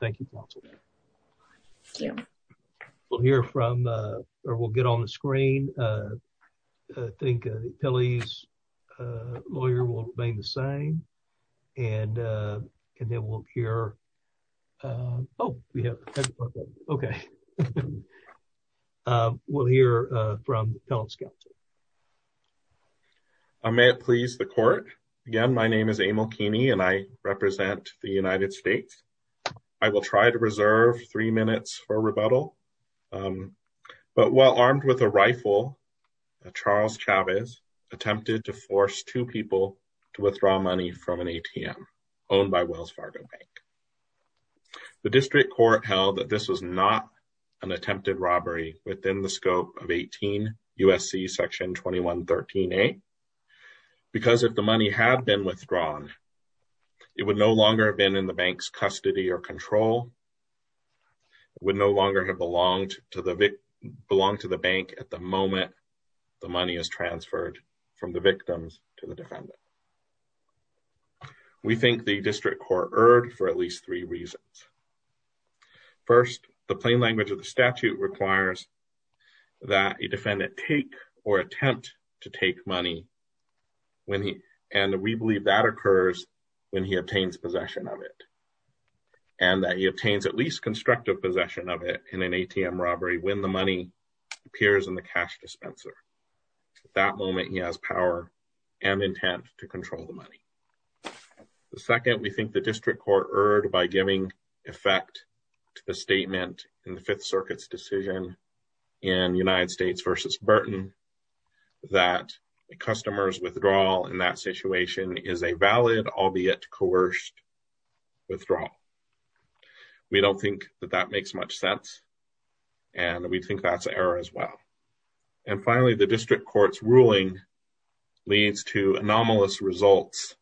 Thank you. We'll hear from or we'll get on the screen. I think Pelley's lawyer will remain the same. And then we'll hear. Oh, yeah. Okay. We'll hear from Pellet's counsel. I may please the court. Again, my name is Emil Keeney and I represent the United States. I will try to reserve three minutes for rebuttal. But while armed with a rifle, Charles Chavez attempted to force two people to withdraw money from an ATM owned by Wells Fargo Bank. The district court held that this was not an attempted robbery within the scope of 18 USC section 2113A. Because if the money had been withdrawn, it would no longer have been in the control, would no longer have belonged to the bank at the moment the money is transferred from the victims to the defendant. We think the district court erred for at least three reasons. First, the plain language of the statute requires that a defendant take or attempt to take money when he and we believe that occurs when he obtains possession of it and that he obtains at least constructive possession of it in an ATM robbery when the money appears in the cash dispenser. At that moment, he has power and intent to control the money. The second, we think the district court erred by giving effect to the statement in the Fifth Circuit's decision in United States v. Burton that a customer's withdrawal in that situation is a valid albeit coerced withdrawal. We don't think that that makes much sense and we think that's an error as well. And finally, the district court's ruling leads to anomalous results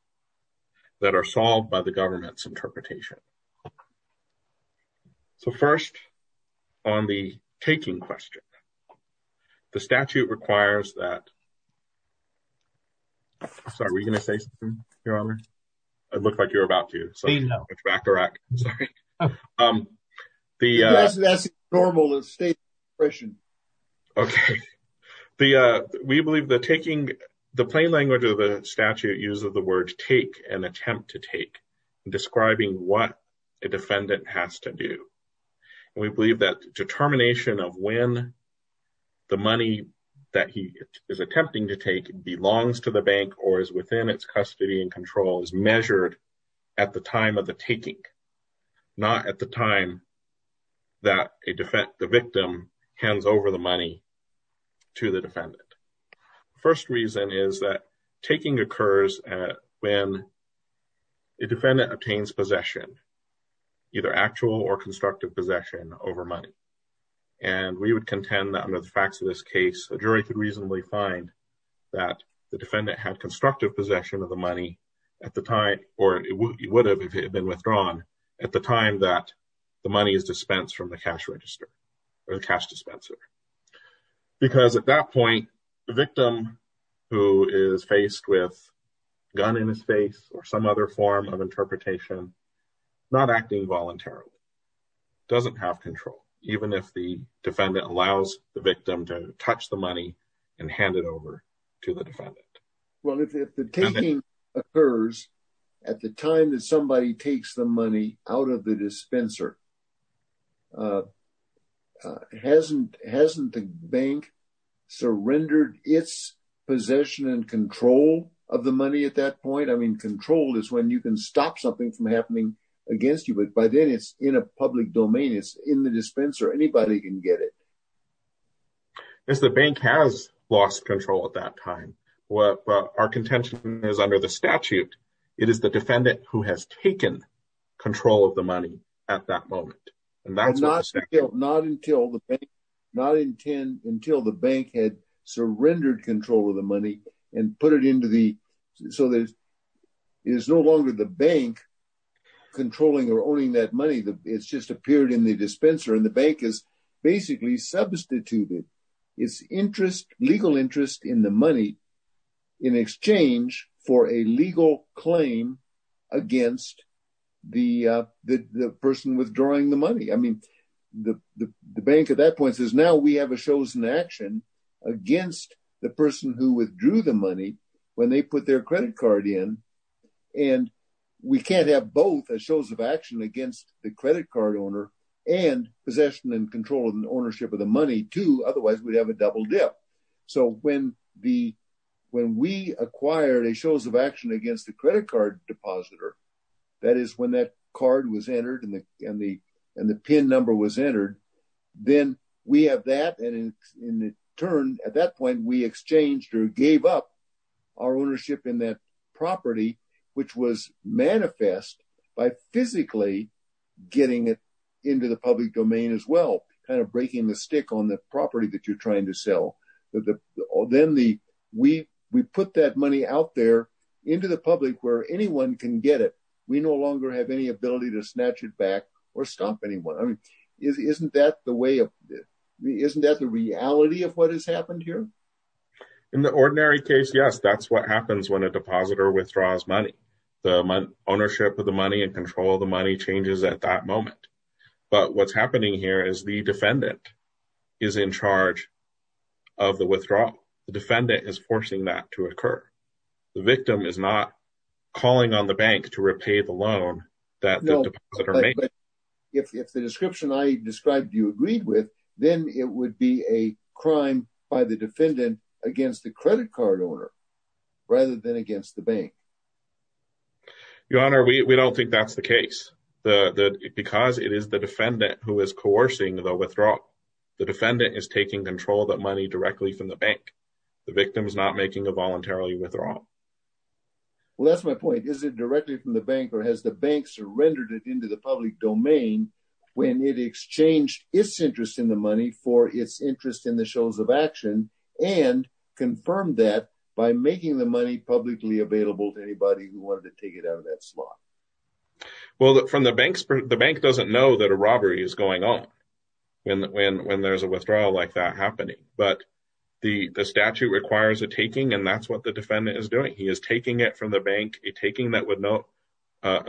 that are solved by the statute. The plain language of the statute uses the word take and attempt to take describing what a defendant has to do. And we believe that determination of when the money that he is attempting to take belongs to the bank or is within its custody and control is measured at the time of the taking, not at the time that the victim hands over the money to the defendant. The first reason is that taking occurs when the defendant obtains possession, either actual or constructive possession, over money. And we would contend that under the facts of this case, a jury could reasonably find that the defendant had constructive possession of the money at the time, or it would have if it had been withdrawn, at the time that the money is dispensed. Because at that point, the victim who is faced with a gun in his face or some other form of interpretation, not acting voluntarily, doesn't have control, even if the defendant allows the victim to touch the money and hand it over to the defendant. Well, if the taking occurs at the time that somebody takes the money out of the dispenser, hasn't the bank surrendered its possession and control of the money at that point? I mean, control is when you can stop something from happening against you, but by then it's in a public domain. It's in the dispenser. Anybody can get it. Yes, the bank has lost control at that time. Well, our contention is under the statute. It is the defendant who has taken control of the money at that moment. And that's not until the bank had surrendered control of the money and put it into the, so there is no longer the bank controlling or owning that money. It's just appeared in the dispenser and the bank has basically substituted its interest, legal interest, in the in exchange for a legal claim against the person withdrawing the money. I mean, the bank at that point says, now we have a chosen action against the person who withdrew the money when they put their credit card in. And we can't have both as shows of action against the credit card owner and possession and control of the ownership of the money too. Otherwise, we'd have double dip. So when we acquired a shows of action against the credit card depositor, that is when that card was entered and the pin number was entered, then we have that. And in the turn at that point, we exchanged or gave up our ownership in that property, which was manifest by physically getting it into the public domain as well, kind of breaking the stick on the property that you're trying to sell. Then we put that money out there into the public where anyone can get it. We no longer have any ability to snatch it back or stop anyone. I mean, isn't that the way of, isn't that the reality of what has happened here? In the ordinary case, yes. That's what happens when a depositor withdraws money. The ownership of the money and control of the money changes at that moment. But what's happening here is the defendant is in charge of the withdrawal. The defendant is forcing that to occur. The victim is not calling on the bank to repay the loan that the depositor made. If the description I described you agreed with, then it would be a crime by the defendant against the credit card owner rather than against the bank. Your Honor, we don't think that's the because it is the defendant who is coercing the withdrawal. The defendant is taking control of that money directly from the bank. The victim is not making a voluntarily withdrawal. Well, that's my point. Is it directly from the bank or has the bank surrendered it into the public domain when it exchanged its interest in the money for its interest in the shows of action and confirmed that by making the money publicly available to anybody who wanted to take it out that slot? Well, the bank doesn't know that a robbery is going on when there's a withdrawal like that happening. But the statute requires a taking, and that's what the defendant is doing. He is taking it from the bank, a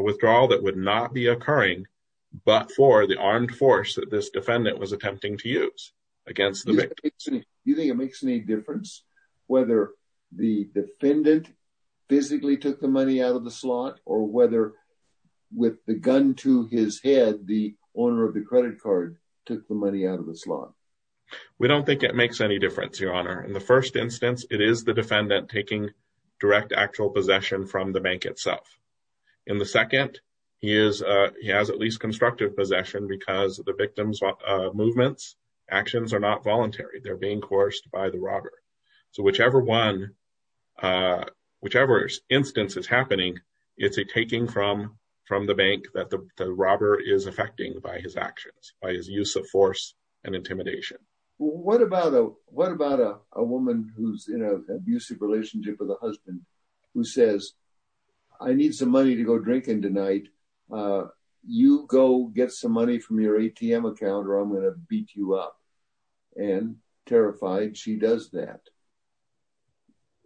withdrawal that would not be occurring but for the armed force that this defendant was attempting to use against the victim. Do you think it makes any difference whether the defendant physically took the money out of the slot or whether with the gun to his head the owner of the credit card took the money out of the slot? We don't think it makes any difference, Your Honor. In the first instance, it is the defendant taking direct actual possession from the bank itself. In the second, he has at least constructive possession because the victim's actions are not voluntary. They're being coerced by the robber. So whichever instance is happening, it's a taking from the bank that the robber is affecting by his actions, by his use of force and intimidation. Well, what about a woman who's in an abusive relationship with a husband who says, I need some money to go drinking tonight. You go get some money from your ATM account or I'm going to beat you up and terrified she does that.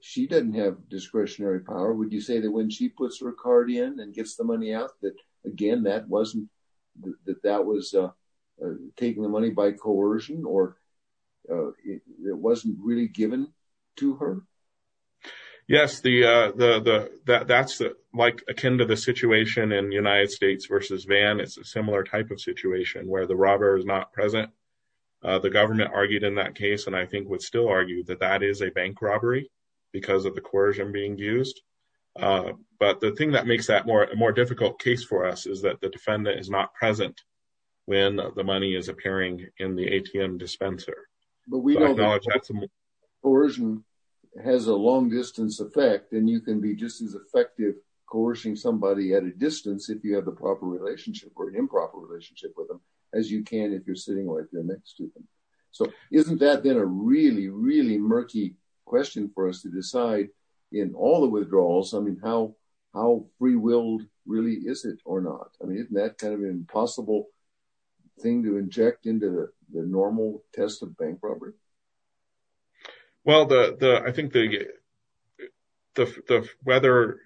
She doesn't have discretionary power. Would you say that when she puts her card in and gets the money out that again that wasn't that that was taking the money by coercion or it wasn't really given to her? Yes, that's like akin to the situation in United States versus Van. It's a similar type of situation where the robber is not present. The government argued in that case and I think would still argue that that is a bank robbery because of the coercion being used. But the thing that makes that more difficult case for us is that the defendant is not present when the money is appearing in the ATM dispenser. But we know that coercion has a long distance effect and you can be just as effective coercing somebody at a distance if you have the proper relationship or improper relationship with them as you can if you're sitting right there next to them. So isn't that then a really, really murky question for us to decide in all the withdrawals? I mean, how free willed really is it or not? I mean, isn't that kind of impossible thing to inject into the normal test of bank robbery? Well, I think the whether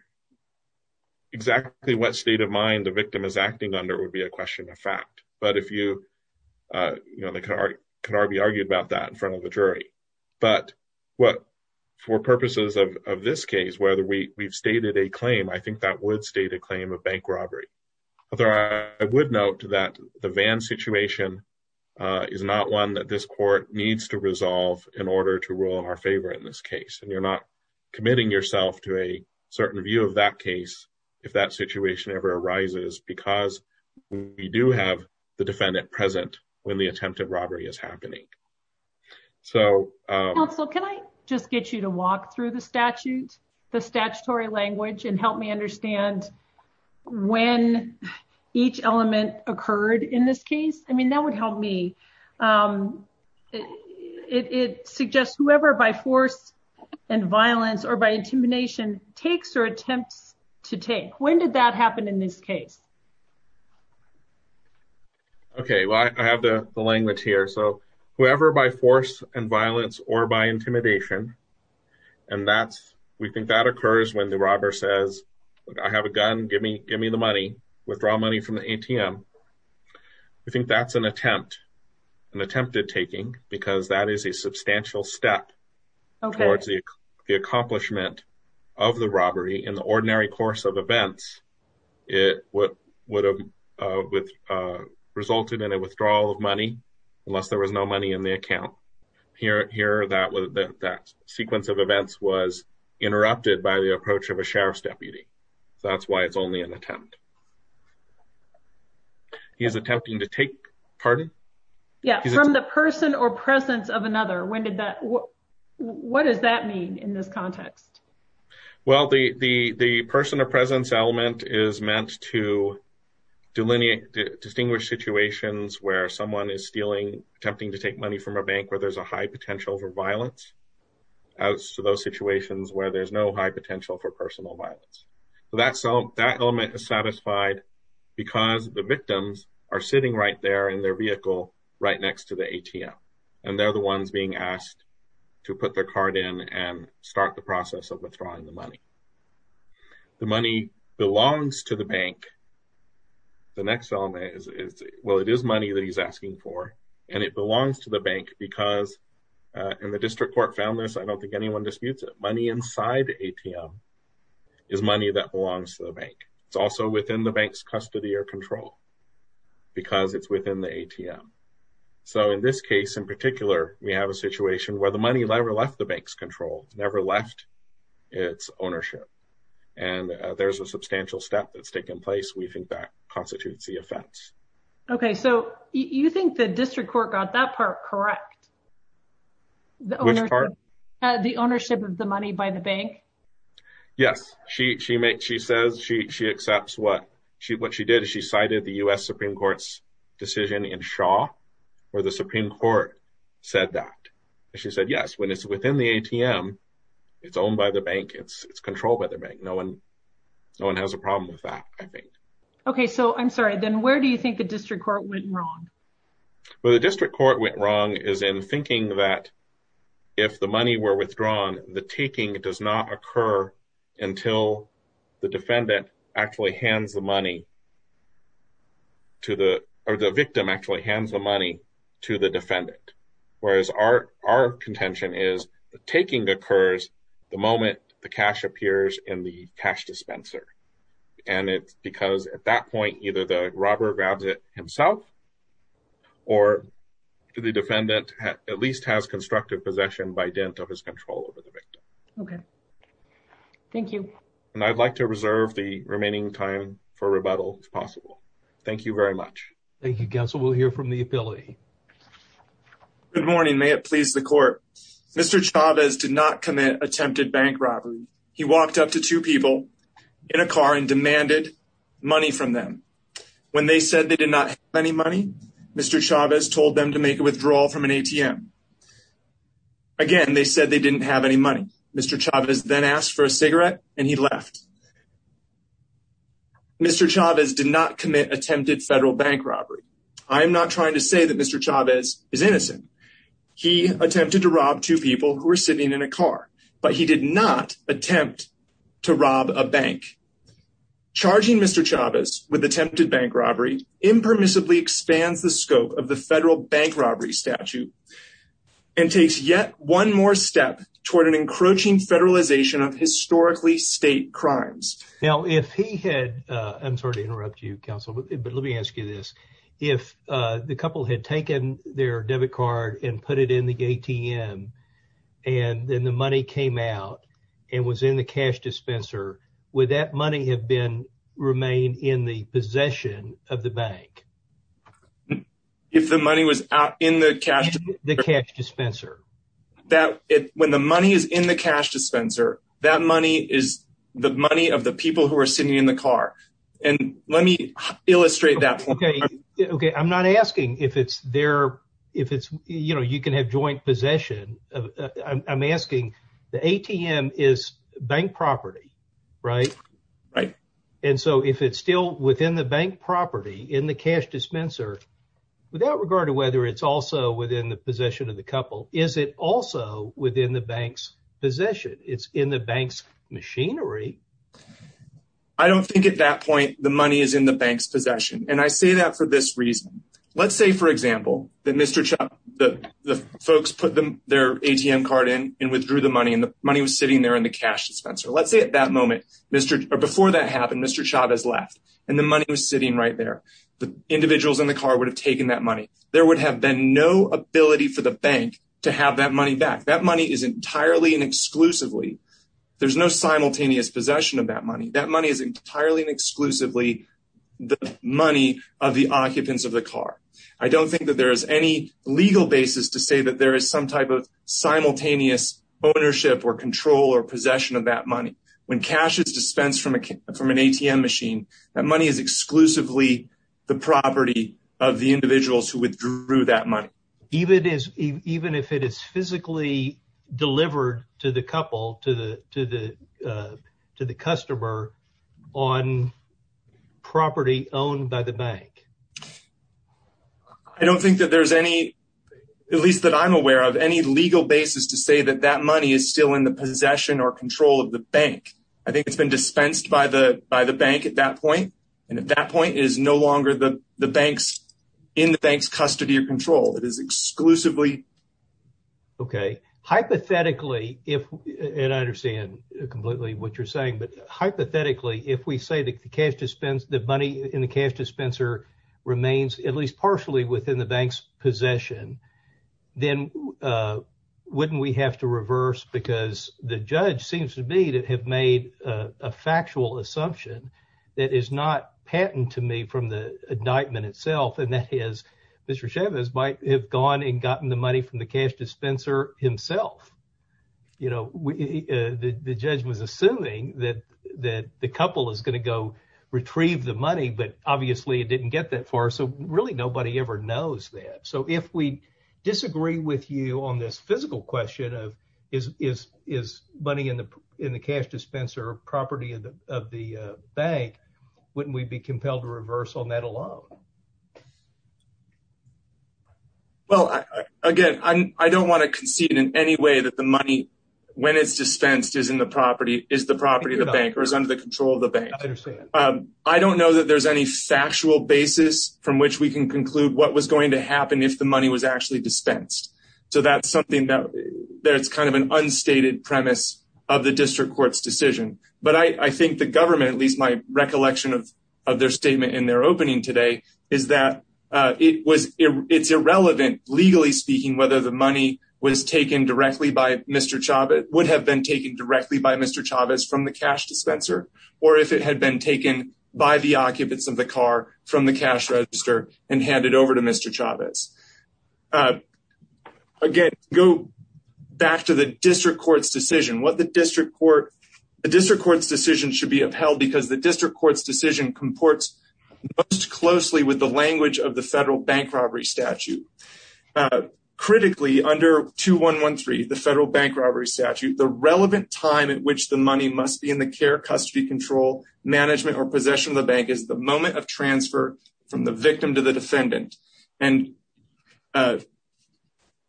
exactly what state of mind the victim is acting under would be a question of fact. But if you, you know, they can already argue about that in front of the jury. But what for purposes of this case, whether we've stated a claim, I think that would state a claim of bank robbery. Although I would note that the Van situation is not one that this court needs to resolve in order to rule in our favor in this case. And you're not committing yourself to a certain view of that case, if that situation ever arises, because we do have the defendant present when the attempt of robbery is happening. So, can I just get you to walk through the statute, the statutory language and help me understand when each element occurred in this case? I mean, that would help me. It suggests whoever by force and violence or by intimidation takes or attempts to take. When did that happen in this case? Okay, well, I have the language here. So, whoever by force and violence or by intimidation. And that's, we think that occurs when the robber says, I have a gun, give me give me the money, withdraw money from the ATM. We think that's an attempt, an attempted taking because that is a of the robbery in the ordinary course of events, it would have resulted in a withdrawal of money, unless there was no money in the account. Here, that sequence of events was interrupted by the approach of a sheriff's deputy. So, that's why it's only an attempt. He is attempting to take, pardon? Yeah, from the person or presence of another. When did that? What does that mean in this context? Well, the person or presence element is meant to delineate, distinguish situations where someone is stealing, attempting to take money from a bank where there's a high potential for violence. So, those situations where there's no high potential for personal violence. So, that element is satisfied because the victims are sitting right there in their vehicle, right next to the ATM. And they're the ones being asked to put their card in and start the process of withdrawing the money. The money belongs to the bank. The next element is, well, it is money that he's asking for and it belongs to the bank because, and the district court found this, I don't think anyone disputes it, money inside the ATM is money that belongs to the bank. It's also within the bank's custody or control because it's within the ATM. So, in this case, in particular, we have a situation where the money never left the bank's control, never left its ownership. And there's a substantial step that's taken place. We think that constitutes the offense. Okay. So, you think the district court got that part correct? Which part? The ownership of the money by the bank? Yes. She says she accepts what she did. She cited the U.S. Supreme Court's decision in Shaw where the Supreme Court said that. She said, yes, when it's within the ATM, it's owned by the bank. It's controlled by the bank. No one has a problem with that, I think. Okay. So, I'm sorry, then where do you think the district court went wrong? Well, the district court went wrong is in thinking that if the money were withdrawn, the defendant actually hands the money to the, or the victim actually hands the money to the defendant. Whereas our contention is the taking occurs the moment the cash appears in the cash dispenser. And it's because at that point, either the robber grabs it himself or the defendant at least has constructed possession by dint of his control over the victim. Okay. Thank you. And I'd like to reserve the remaining time for rebuttal if possible. Thank you very much. Thank you, counsel. We'll hear from the affiliate. Good morning. May it please the court. Mr. Chavez did not commit attempted bank robbery. He walked up to two people in a car and demanded money from them. When they said they did not have any money, Mr. Chavez told them to make a withdrawal from an ATM. Again, they said they didn't have any money. Mr. Chavez then asked for a cigarette and he left. Mr. Chavez did not commit attempted federal bank robbery. I am not trying to say that Mr. Chavez is innocent. He attempted to rob two people who were sitting in a car, but he did not attempt to rob a bank. Charging Mr. Chavez expands the scope of the federal bank robbery statute and takes yet one more step toward an encroaching federalization of historically state crimes. Now, if he had I'm sorry to interrupt you, counsel, but let me ask you this. If the couple had taken their debit card and put it in the ATM and then the money came out and was in the cash dispenser, would that money have been remain in the possession of the bank? If the money was out in the cash, the cash dispenser that when the money is in the cash dispenser, that money is the money of the people who are sitting in the car. And let me illustrate that. OK, OK. I'm not asking if it's there, if it's you know, you can have joint possession. I'm asking the ATM is bank property, right? Right. And so if it's still within the bank property in the cash dispenser, without regard to whether it's also within the possession of the couple, is it also within the bank's possession? It's in the bank's machinery. I don't think at that point the money is in the bank's possession, and I say that for this reason. Let's say, for example, that Mr. Chuck, the folks put them their ATM card in and withdrew the money and the money was sitting there in the cash dispenser. Let's say that moment before that happened, Mr. Chuck has left and the money was sitting right there. The individuals in the car would have taken that money. There would have been no ability for the bank to have that money back. That money is entirely and exclusively. There's no simultaneous possession of that money. That money is entirely and exclusively the money of the occupants of the car. I don't think that there is any legal basis to say that there is some type of simultaneous ownership or control or possession of that money. When cash is dispensed from an ATM machine, that money is exclusively the property of the individuals who withdrew that money. Even if it is physically delivered to the couple, to the customer on property owned by the bank? I don't think that there's any, at least that I'm aware of, any legal basis to say that that money is still in the possession or control of the bank. I think it's been dispensed by the bank at that point, and at that point, it is no longer in the bank's custody or control. It is exclusively. Okay. Hypothetically, and I understand completely what you're saying, but hypothetically, if we say that the money in the cash dispenser remains at least partially within the bank's possession, then wouldn't we have to reverse because the judge seems to have made a factual assumption that is not patent to me from the indictment itself, and that is Mr. Chavez might have gone and gotten the money from the cash dispenser himself. The judge was assuming that the couple is going to go retrieve the money, but obviously, it didn't get that far. So, really, nobody ever knows that. So, if we disagree with you on this physical question of is money in the cash dispenser a property of the bank, wouldn't we be compelled to reverse on that alone? Well, again, I don't want to concede in any way that the money, when it's dispensed, is in the property, is the property of the bank or is under the control of the bank. I don't know that there's any factual basis from which we can conclude what was going to happen if the money was actually dispensed. So, that's something that's kind of an unstated premise of the district court's decision, but I think the government, at least my recollection of their statement in their opening today, is that it's irrelevant, legally speaking, whether the would have been taken directly by Mr. Chavez from the cash dispenser or if it had been taken by the occupants of the car from the cash register and handed over to Mr. Chavez. Again, go back to the district court's decision. The district court's decision should be upheld because the district court's decision comports most closely with the language of the federal bank robbery statute. The relevant time at which the money must be in the care, custody, control, management, or possession of the bank is the moment of transfer from the victim to the defendant. And,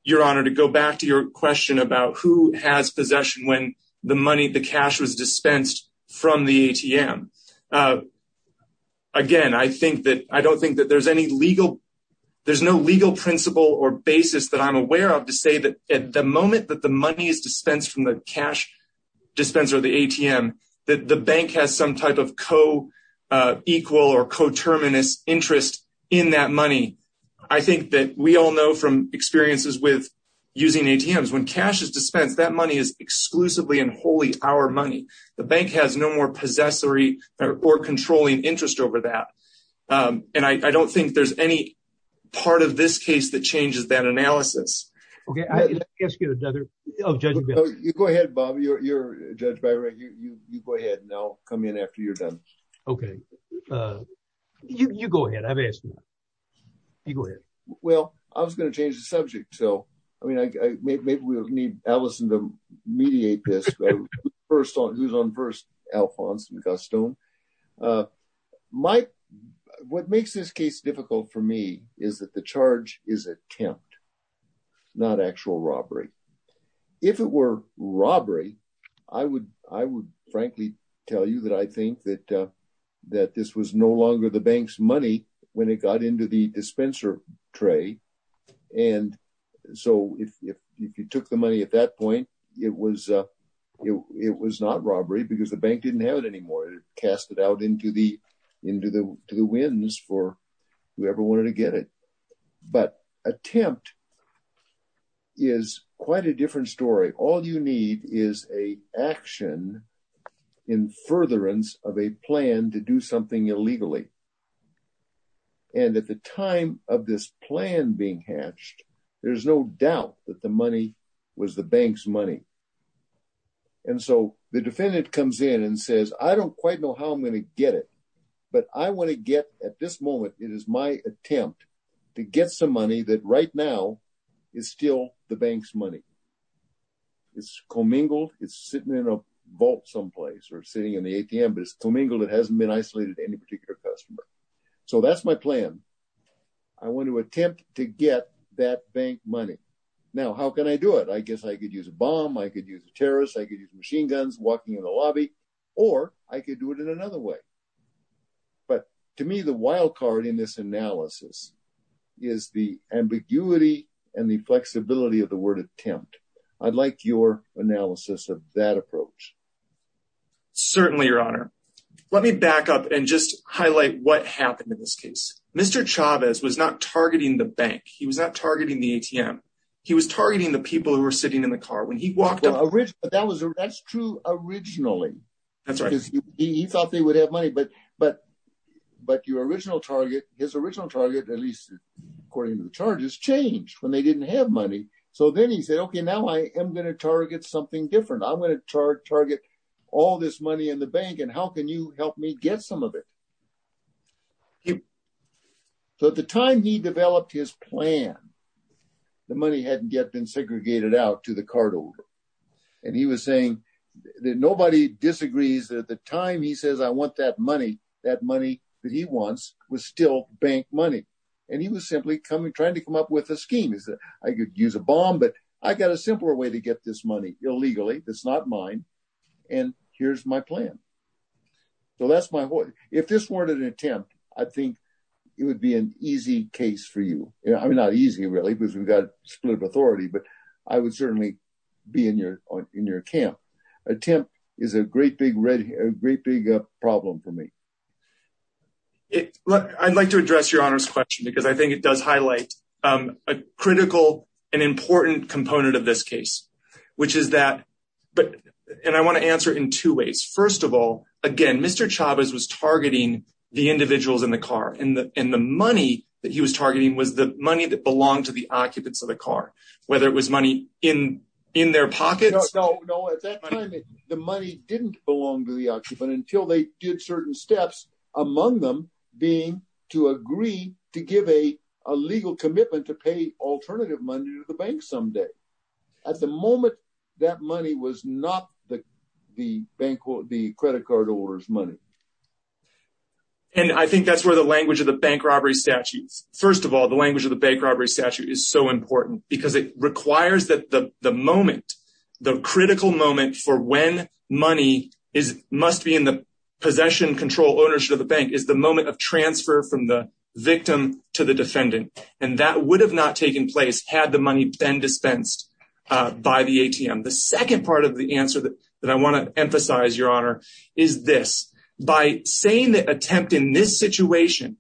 Your Honor, to go back to your question about who has possession when the money, the cash was dispensed from the ATM. Again, I think that, I don't think that there's any legal, there's no legal principle or basis that I'm aware of to say that at the moment that the money is dispensed from the cash dispenser, the ATM, that the bank has some type of co-equal or coterminous interest in that money. I think that we all know from experiences with using ATMs, when cash is dispensed, that money is exclusively and wholly our money. The bank has no more possessory or controlling interest over that. And I don't think there's any part of this case that changes that analysis. Okay, I'll ask you another. Oh, Judge, you go ahead, Bob. You're Judge Byron. You go ahead and I'll come in after you're done. Okay. You go ahead. I've asked you. You go ahead. Well, I was going to change the subject. So, I mean, maybe we'll need Allison to custom. What makes this case difficult for me is that the charge is attempt, not actual robbery. If it were robbery, I would frankly tell you that I think that this was no longer the bank's money when it got into the dispenser tray. And so, if you took the money at that point, it was not robbery because the bank didn't have it anymore. It cast it out into the winds for whoever wanted to get it. But attempt is quite a different story. All you need is an action in furtherance of a plan to do something illegally. And at the time of this plan being hatched, there's no doubt that the money was the bank's money. And so, the defendant comes in and says, I don't quite know how I'm going to get it, but I want to get, at this moment, it is my attempt to get some money that right now is still the bank's money. It's commingled. It's sitting in a vault someplace or sitting in the ATM, but it's commingled. It hasn't been isolated to any particular customer. So, that's my plan. I want to attempt to get that bank money. Now, how can I do it? I guess I could use a bomb, I could use a terrorist, I could use machine guns walking in the lobby, or I could do it in another way. But to me, the wild card in this analysis is the ambiguity and the flexibility of the word attempt. I'd like your analysis of that approach. Certainly, Your Honor. Let me back up and just Chavez was not targeting the bank. He was not targeting the ATM. He was targeting the people who were sitting in the car when he walked up. That's true originally. He thought they would have money, but your original target, his original target, at least according to the charges, changed when they didn't have money. So, then he said, okay, now I am going to target something different. I'm going to target all this money in the bank, and how can you help me get some of it? So, at the time he developed his plan, the money hadn't yet been segregated out to the cardholder. And he was saying that nobody disagrees that at the time he says, I want that money, that money that he wants was still bank money. And he was simply coming, trying to come up with a scheme. He said, I could use a bomb, but I got a simpler way to get this money illegally. That's not mine. And here's my plan. So, that's my, if this weren't an attempt, I think it would be an easy case for you. I mean, not easy really, because we've got split of authority, but I would certainly be in your camp. Attempt is a great big problem for me. I'd like to address your honor's question because I think it does highlight a critical and important component of this case, which is that, and I want to answer it in two ways. First of all, again, Mr. Chavez was targeting the individuals in the car and the money that he was targeting was the money that belonged to the occupants of the car, whether it was money in their pockets. The money didn't belong to the occupant until they did certain steps among them being to agree to give a legal commitment to pay alternative money to the bank someday. At the moment, that money was not the credit card holder's money. And I think that's where the language of the bank robbery statute is. First of all, the language of the bank robbery statute is so important because it requires that the moment, the critical moment for when money must be in the possession control ownership of the bank, is the moment of transfer from the victim to the defendant. And that would have not taken place had the money been dispensed by the ATM. The second part of the answer that I want to emphasize, your honor, is this. By saying that attempt in this situation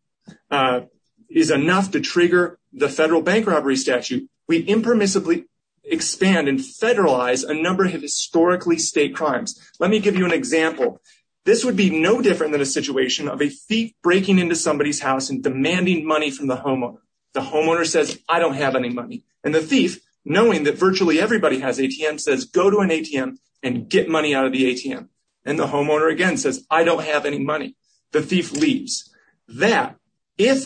is enough to trigger the federal bank robbery statute, we impermissibly expand and federalize a number of historically state crimes. Let me give you an example. This would be no different than a situation of a thief breaking into somebody's house and demanding money from the homeowner. The homeowner says, I don't have any money. And the thief, knowing that virtually everybody has ATMs, says go to an ATM and get money out of the ATM. And the homeowner again says, I don't have any money. The thief leaves. That, if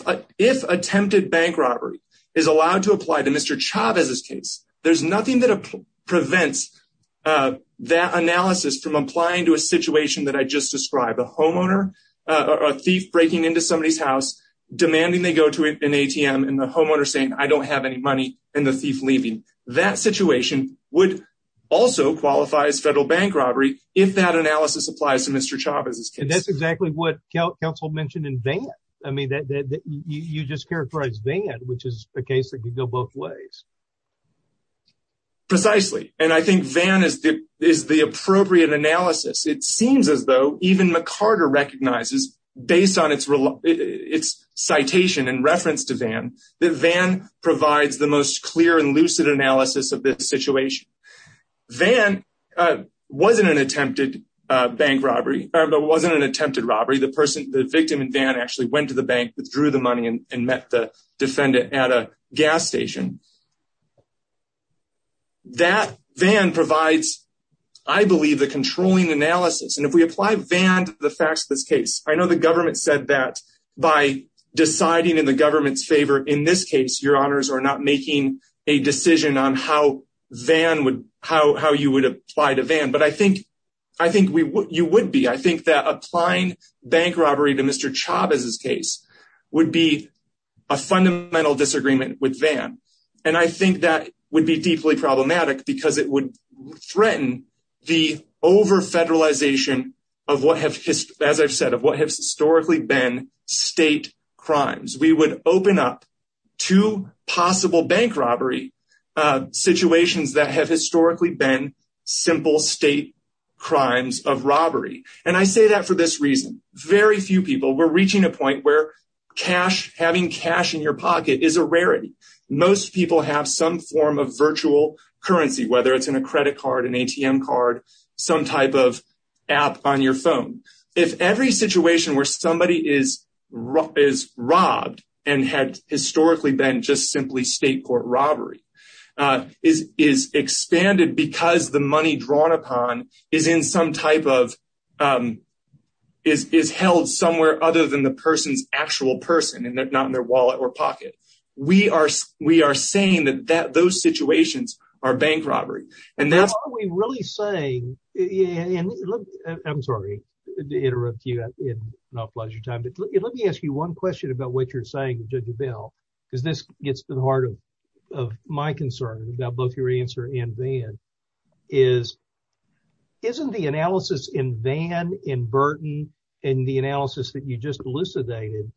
attempted bank robbery is allowed to apply to Mr. Chavez's case, there's nothing that prevents that analysis from applying to a situation that I just described. A homeowner, a thief breaking into somebody's house, demanding they go to an ATM, and the homeowner saying, I don't have any money, and the thief leaving. That situation would also qualify as federal bank robbery if that analysis applies to Mr. Chavez's case. And that's exactly what counsel mentioned in Vann. I mean, you just characterized Vann, which is a case that could go both ways. Precisely. And I think Vann is the appropriate analysis. It seems as though even McCarter recognizes, based on its citation in reference to Vann, that Vann provides the most clear and lucid analysis of this situation. Vann wasn't an attempted bank robbery. It wasn't an attempted robbery. The person, the victim in Vann actually went to the bank, withdrew the money, and met the defendant at a gas station. That Vann provides, I believe, the controlling analysis. And if we I know the government said that by deciding in the government's favor in this case, your honors, are not making a decision on how you would apply to Vann. But I think you would be. I think that applying bank robbery to Mr. Chavez's case would be a fundamental disagreement with Vann. And I think that would be deeply problematic because it would threaten the over-federalization of what as I've said, of what have historically been state crimes. We would open up two possible bank robbery situations that have historically been simple state crimes of robbery. And I say that for this reason. Very few people, we're reaching a point where cash, having cash in your pocket is a rarity. Most people have some form of virtual currency, whether it's in a credit card, an ATM card, some type of app on your phone. If every situation where somebody is robbed and had historically been just simply state court robbery is expanded because the money drawn upon is in some type of, is held somewhere other than the person's actual person and not in their wallet or pocket. We are saying that those situations are bank robbery. And that's what we're really saying. And I'm sorry to interrupt you in an awful lot of your time, but let me ask you one question about what you're saying to Judge Bell, because this gets to the heart of my concern about both your answer and Vann. Isn't the analysis in Vann, in Burton, in the analysis that you just elucidated,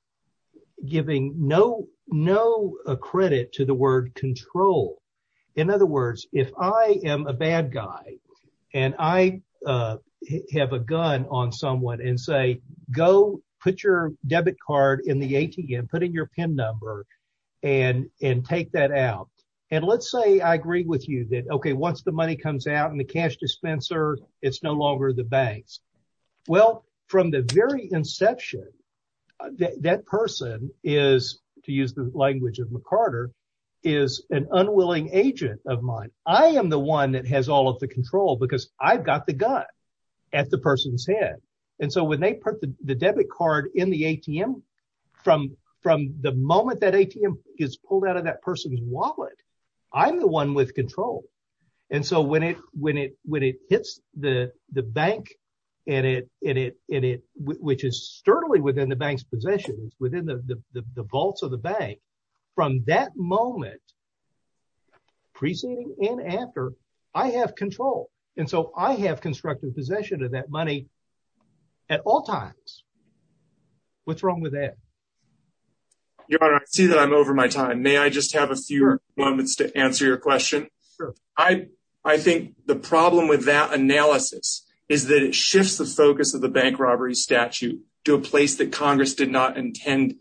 giving no, no credit to the word control. In other words, if I am a bad guy and I have a gun on someone and say, go put your debit card in the ATM, put in your pin number and, and take that out. And let's say I agree with you that, okay, once the money comes out in the cash dispenser, it's no longer the banks. Well, from the very inception, that person is, to use the language of McCarter, is an unwilling agent of mine. I am the one that has all of the control because I've got the gun at the person's head. And so when they put the debit card in the ATM, from, from the moment that ATM gets pulled out of that person's wallet, I'm the one with control. And so when it, when it, when it hits the, the bank and it, in it, in it, which is sturdily within the bank's possession, it's within the vaults of the bank, from that moment preceding and after, I have control. And so I have constructive possession of that money at all times. What's wrong with that? Your Honor, I see that I'm over my time. May I just have a few moments to answer your question? I, I think the problem with that analysis is that it shifts the focus of the bank robbery statute to a place that Congress did not intend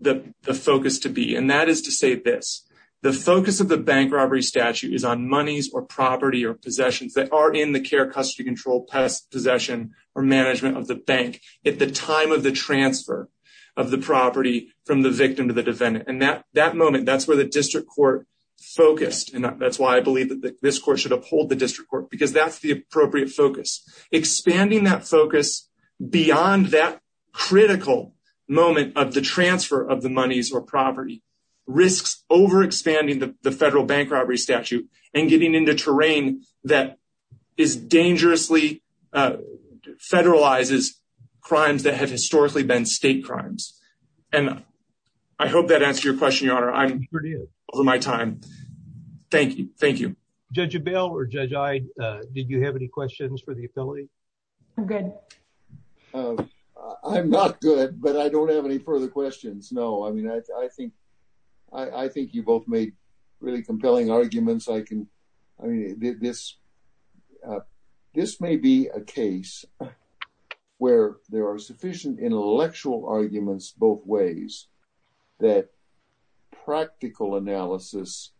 the, the focus to be. And that is to say this, the focus of the bank robbery statute is on monies or property or possessions that are in the care, custody, control, possession, or management of the bank at the time of the transfer of the property from the victim to the defendant. And that, that moment, that's where the district court focused. And that's why I believe that this court should uphold the district court because that's the appropriate focus. Expanding that focus beyond that critical moment of the transfer of the monies or property risks over-expanding the federal bank robbery statute and getting into terrain that is dangerously, federalizes crimes that have historically been state crimes. And I hope that answered your question, Your Honor. I'm over my time. Thank you. Thank you. Judge Abell or Judge Ide, did you have any questions for the appellate? I'm good. I'm not good, but I don't have any further questions. No. I mean, I think, I think you both made really compelling arguments. I can, I mean, this, this may be a case where there are sufficient intellectual arguments both ways that practical analysis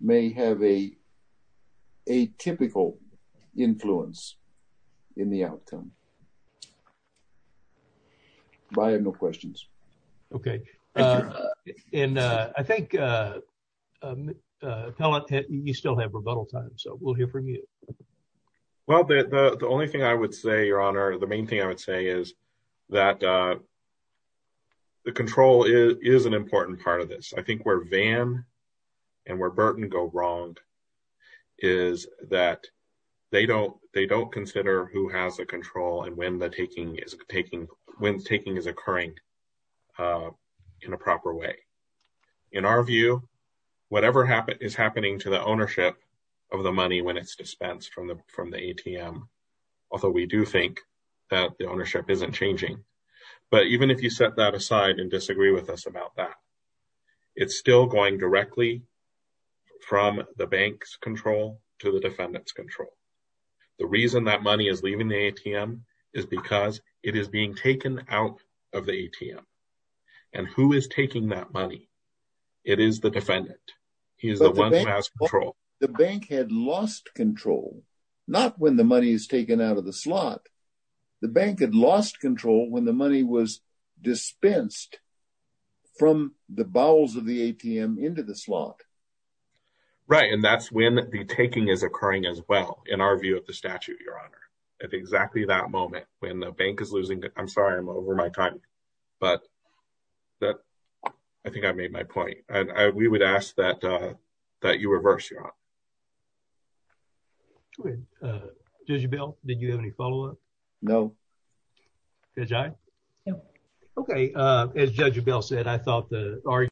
may have a, a typical influence in the outcome. But I have no questions. Okay. And I think appellate, you still have rebuttal time. So we'll hear from you. Well, the, the, the only thing I would say, Your Honor, the main thing I would say is that the control is, is an important part of this. I think where Van and where Burton go wrong is that they don't, they don't consider who has the control and when the taking is taking, when taking is occurring in a proper way. In our view, whatever happened is happening to ownership of the money when it's dispensed from the, from the ATM. Although we do think that the ownership isn't changing, but even if you set that aside and disagree with us about that, it's still going directly from the bank's control to the defendant's control. The reason that money is leaving the ATM is because it is being taken out of the ATM and who is taking that money? It is the defendant. He is the one who has control. The bank had lost control, not when the money is taken out of the slot. The bank had lost control when the money was dispensed from the bowels of the ATM into the slot. Right. And that's when the taking is occurring as well. In our view of the statute, Your Honor, at exactly that moment, when the bank is losing, I'm sorry, I'm over my time, but that, I think I made my point. And I, we would ask that, that you reverse, Your Honor. Judge Abell, did you have any follow-up? No. Judge I? No. Okay. As Judge Abell said, I thought the argument